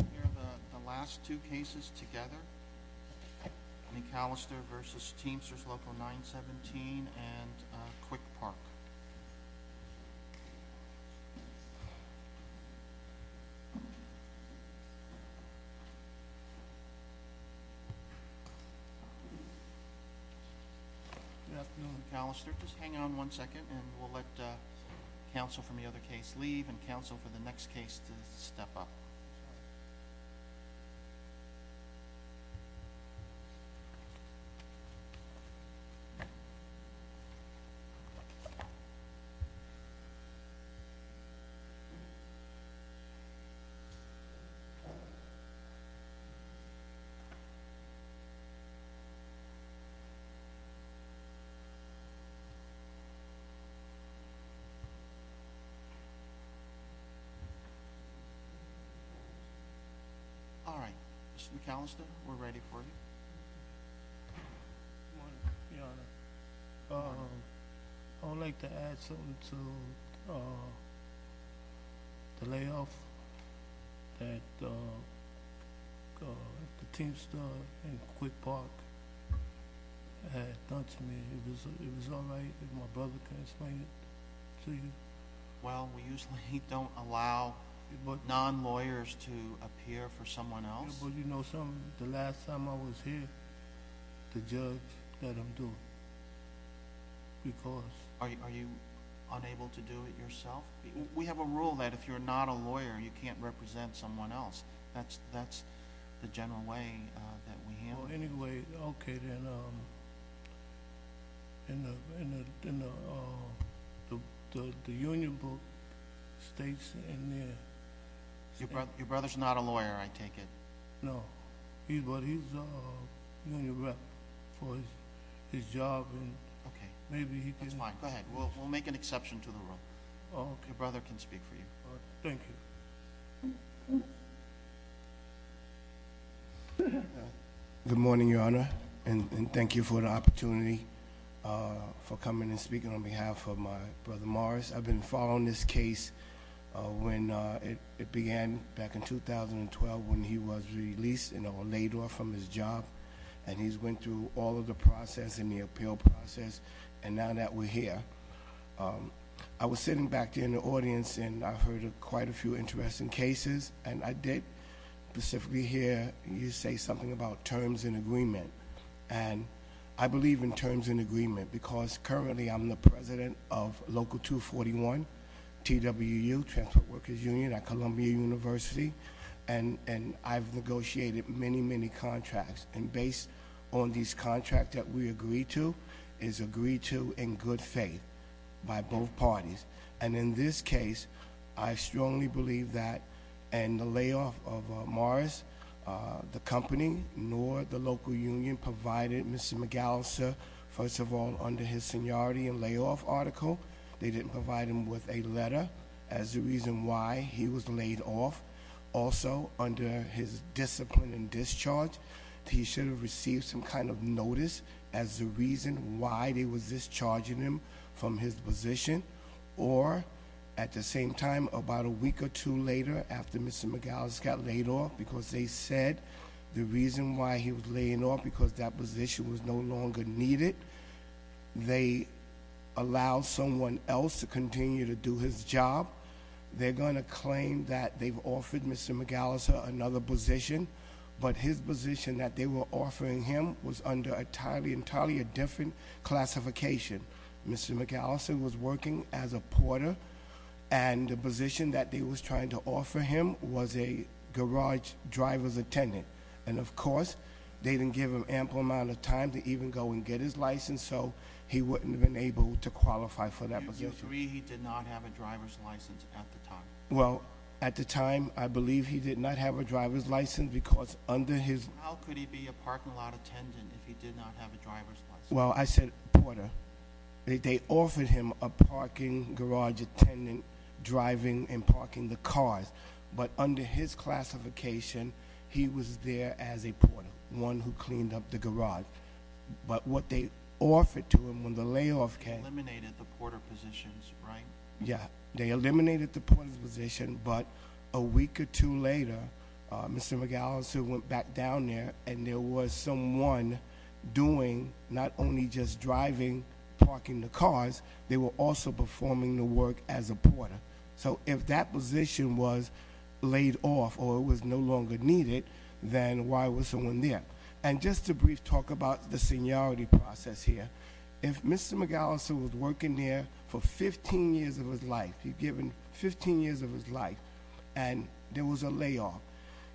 We'll hear the last two cases together. McAllister v. Teamsters Local 917 and Quick Park. Good afternoon McAllister. Just hang on one second and we'll let counsel from the other case leave and counsel for the next case to step up. All right, Mr. McAllister, we're ready for you. Good morning, Your Honor. I would like to add something to the layoff that the Teamster and Quick Park had done to me. It was all right if my brother can explain it to you. Well, we usually don't allow non-lawyers to appear for someone else. The last time I was here, the judge let him do it. Are you unable to do it yourself? We have a rule that if you're not a lawyer, you can't represent someone else. That's the general way that we handle it. Anyway, okay then, the union states... Your brother's not a lawyer, I take it. No, but he's a union rep for his job. That's fine. Go ahead. We'll make an exception to the rule. Your brother can speak for you. Thank you. Good morning, Your Honor, and thank you for the opportunity for coming and speaking on behalf of my brother Morris. I've been following this case when it began back in 2012 when he was released and laid off from his job, and he's went through all of the process and the appeal process, and now that we're here. I was sitting back there in the audience and I heard quite a few interesting cases, and I did specifically hear you say something about terms and agreement. I believe in terms and agreement because currently I'm the president of Local 241, TWU, Transport Workers Union at Columbia University, and I've negotiated many, many contracts. And based on these contracts that we agreed to, it's agreed to in good faith by both parties. And in this case, I strongly believe that in the layoff of Morris, the company nor the local union provided Mr. McAllister, first of all, under his seniority and layoff article. They didn't provide him with a letter as the reason why he was laid off. Also, under his discipline and discharge, he should have received some kind of notice as the reason why they were discharging him from his position. Or at the same time, about a week or two later after Mr. McAllister got laid off, because they said the reason why he was laying off, because that position was no longer needed. They allowed someone else to continue to do his job. They're going to claim that they've offered Mr. McAllister another position, but his position that they were offering him was under entirely a different classification. Mr. McAllister was working as a porter, and the position that they was trying to offer him was a garage driver's attendant. And of course, they didn't give him ample amount of time to even go and get his license. So he wouldn't have been able to qualify for that position. I agree he did not have a driver's license at the time. Well, at the time, I believe he did not have a driver's license because under his- How could he be a parking lot attendant if he did not have a driver's license? Well, I said porter. They offered him a parking garage attendant driving and parking the cars. But under his classification, he was there as a porter, one who cleaned up the garage. But what they offered to him when the layoff came- Yeah, they eliminated the porter's position. But a week or two later, Mr. McAllister went back down there and there was someone doing not only just driving, parking the cars. They were also performing the work as a porter. So if that position was laid off or was no longer needed, then why was someone there? And just to brief talk about the seniority process here. If Mr. McAllister was working there for 15 years of his life, you're given 15 years of his life, and there was a layoff,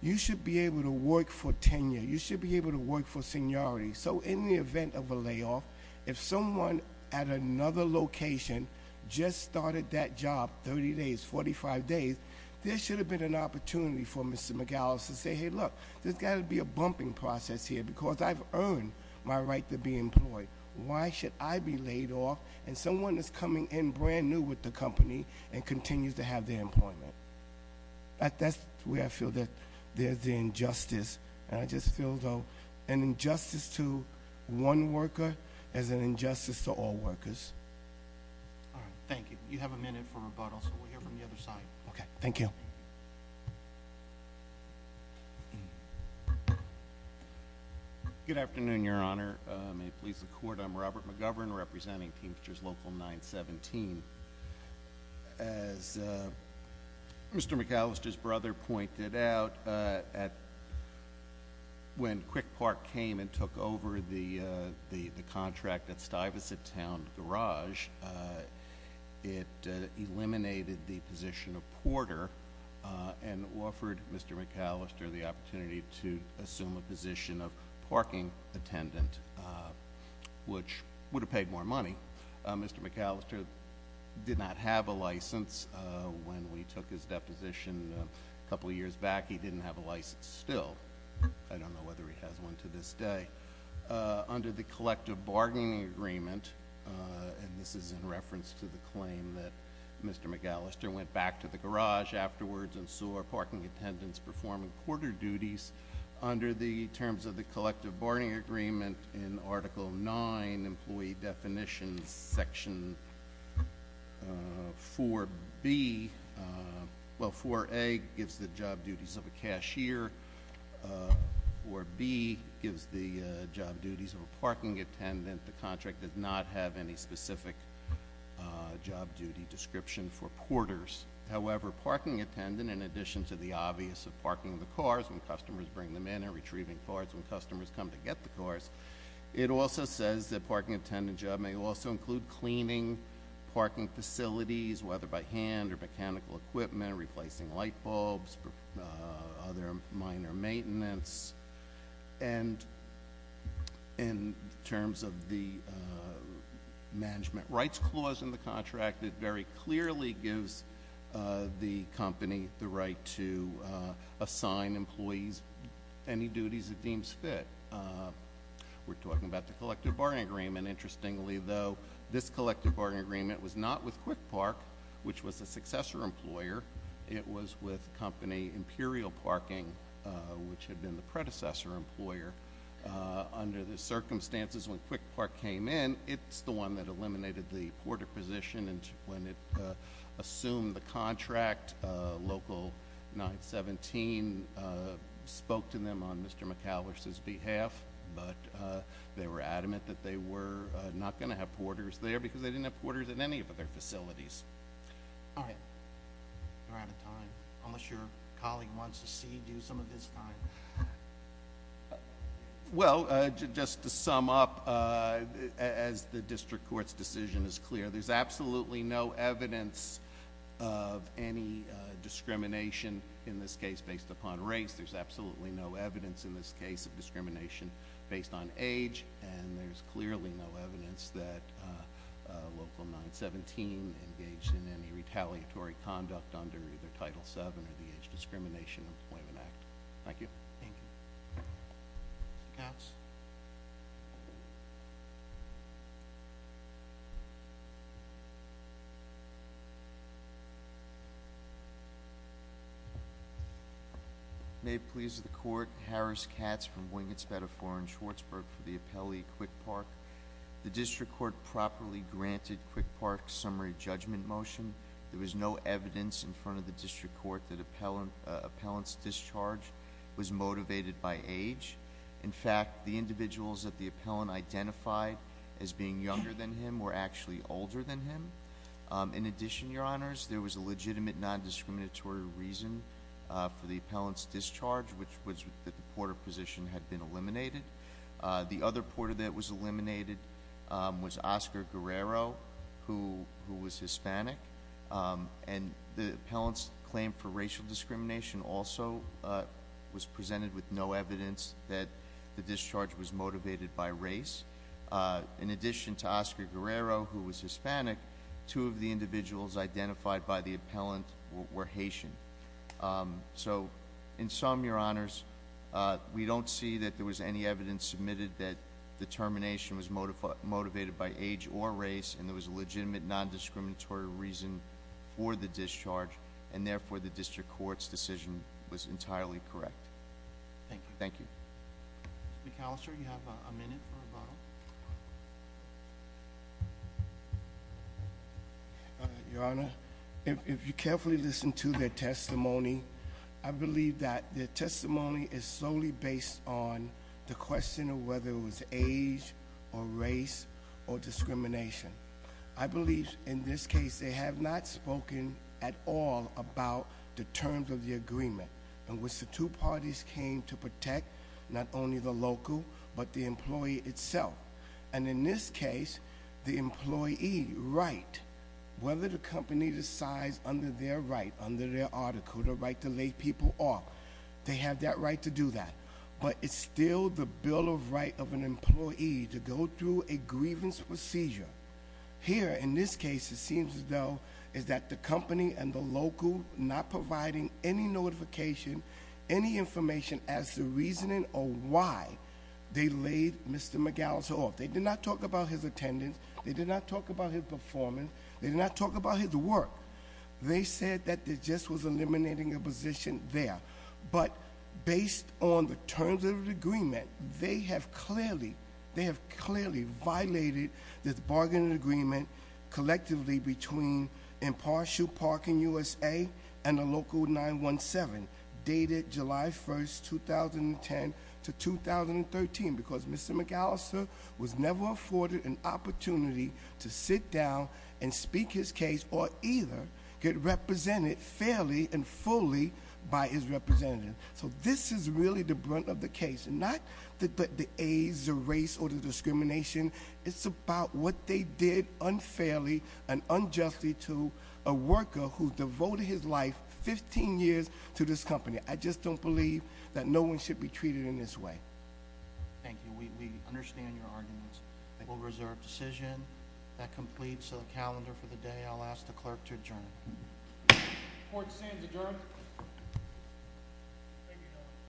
you should be able to work for tenure. You should be able to work for seniority. So in the event of a layoff, if someone at another location just started that job 30 days, 45 days, there should have been an opportunity for Mr. McAllister to say, hey, look. There's got to be a bumping process here because I've earned my right to be employed. Why should I be laid off? And someone is coming in brand new with the company and continues to have their employment. That's where I feel that there's the injustice. And I just feel, though, an injustice to one worker is an injustice to all workers. All right, thank you. You have a minute for rebuttal, so we'll hear from the other side. Okay, thank you. Good afternoon, Your Honor. May it please the Court, I'm Robert McGovern representing Teamsters Local 917. As Mr. McAllister's brother pointed out, when Quick Park came and took over the contract at Stuyvesant Town Garage, it eliminated the position of porter and offered Mr. McAllister the opportunity to assume a position of parking attendant, which would have paid more money. Mr. McAllister did not have a license when we took his deposition a couple years back. He didn't have a license still. I don't know whether he has one to this day. Under the collective bargaining agreement, and this is in reference to the claim that Mr. McAllister went back to the garage afterwards and so are parking attendants performing porter duties under the terms of the collective bargaining agreement in Article 9, Employee Definitions, Section 4B. Well, 4A gives the job duties of a cashier. 4B gives the job duties of a parking attendant. The contract does not have any specific job duty description for porters. However, parking attendant, in addition to the obvious of parking the cars when customers bring them in and retrieving cars when customers come to get the cars, it also says that parking attendant job may also include cleaning parking facilities, whether by hand or mechanical equipment, replacing light bulbs, other minor maintenance. And in terms of the management rights clause in the contract, it very clearly gives the company the right to assign employees any duties it deems fit. We're talking about the collective bargaining agreement. Interestingly, though, this collective bargaining agreement was not with Quick Park, which was a successor employer. It was with company Imperial Parking, which had been the predecessor employer. Under the circumstances, when Quick Park came in, it's the one that eliminated the porter position. And when it assumed the contract, Local 917 spoke to them on Mr. McAllister's behalf, but they were adamant that they were not going to have porters there because they didn't have porters at any of their facilities. All right. We're out of time, unless your colleague wants to cede you some of his time. Well, just to sum up, as the district court's decision is clear, there's absolutely no evidence of any discrimination in this case based upon race. There's absolutely no evidence in this case of discrimination based on age, and there's clearly no evidence that Local 917 engaged in any retaliatory conduct under either Title VII or the Age Discrimination Employment Act. Thank you. Thank you. Mr. Katz? May it please the court, Harris Katz from Wingetts, Betafore, and Schwartzburg for the appellee Quick Park. The district court properly granted Quick Park's summary judgment motion. There was no evidence in front of the district court that appellant's discharge was motivated by age. In fact, the individuals that the appellant identified as being younger than him were actually older than him. In addition, your honors, there was a legitimate nondiscriminatory reason for the appellant's discharge, which was that the porter position had been eliminated. The other porter that was eliminated was Oscar Guerrero, who was Hispanic, and the appellant's claim for racial discrimination also was presented with no evidence that the discharge was motivated by race. In addition to Oscar Guerrero, who was Hispanic, two of the individuals identified by the appellant were Haitian. So in sum, your honors, we don't see that there was any evidence submitted that the termination was motivated by age or race, and there was a legitimate nondiscriminatory reason for the discharge. And therefore, the district court's decision was entirely correct. Thank you. Thank you. Mr. McAllister, you have a minute for rebuttal. Your honor, if you carefully listen to their testimony, I believe that their testimony is solely based on the question of whether it was age or race or discrimination. I believe in this case, they have not spoken at all about the terms of the agreement, in which the two parties came to protect not only the local, but the employee itself. And in this case, the employee right, whether the company decides under their right, under their article, the right to lay people off, they have that right to do that. But it's still the bill of right of an employee to go through a grievance procedure. Here, in this case, it seems as though, is that the company and the local not providing any notification, any information as to reasoning or why they laid Mr. McAllister off. They did not talk about his attendance, they did not talk about his performance, they did not talk about his work. They said that they just was eliminating a position there. But based on the terms of the agreement, they have clearly, they have clearly violated this bargaining agreement collectively between Impartial Park in USA and the local 917, dated July 1st, 2010 to 2013. Because Mr. McAllister was never afforded an opportunity to sit down and get represented fairly and fully by his representative. So this is really the brunt of the case, not the age, the race, or the discrimination. It's about what they did unfairly and unjustly to a worker who devoted his life, 15 years, to this company. I just don't believe that no one should be treated in this way. Thank you, we understand your arguments. We'll reserve decision that completes the calendar for the day. I'll ask the clerk to adjourn. Court stands adjourned.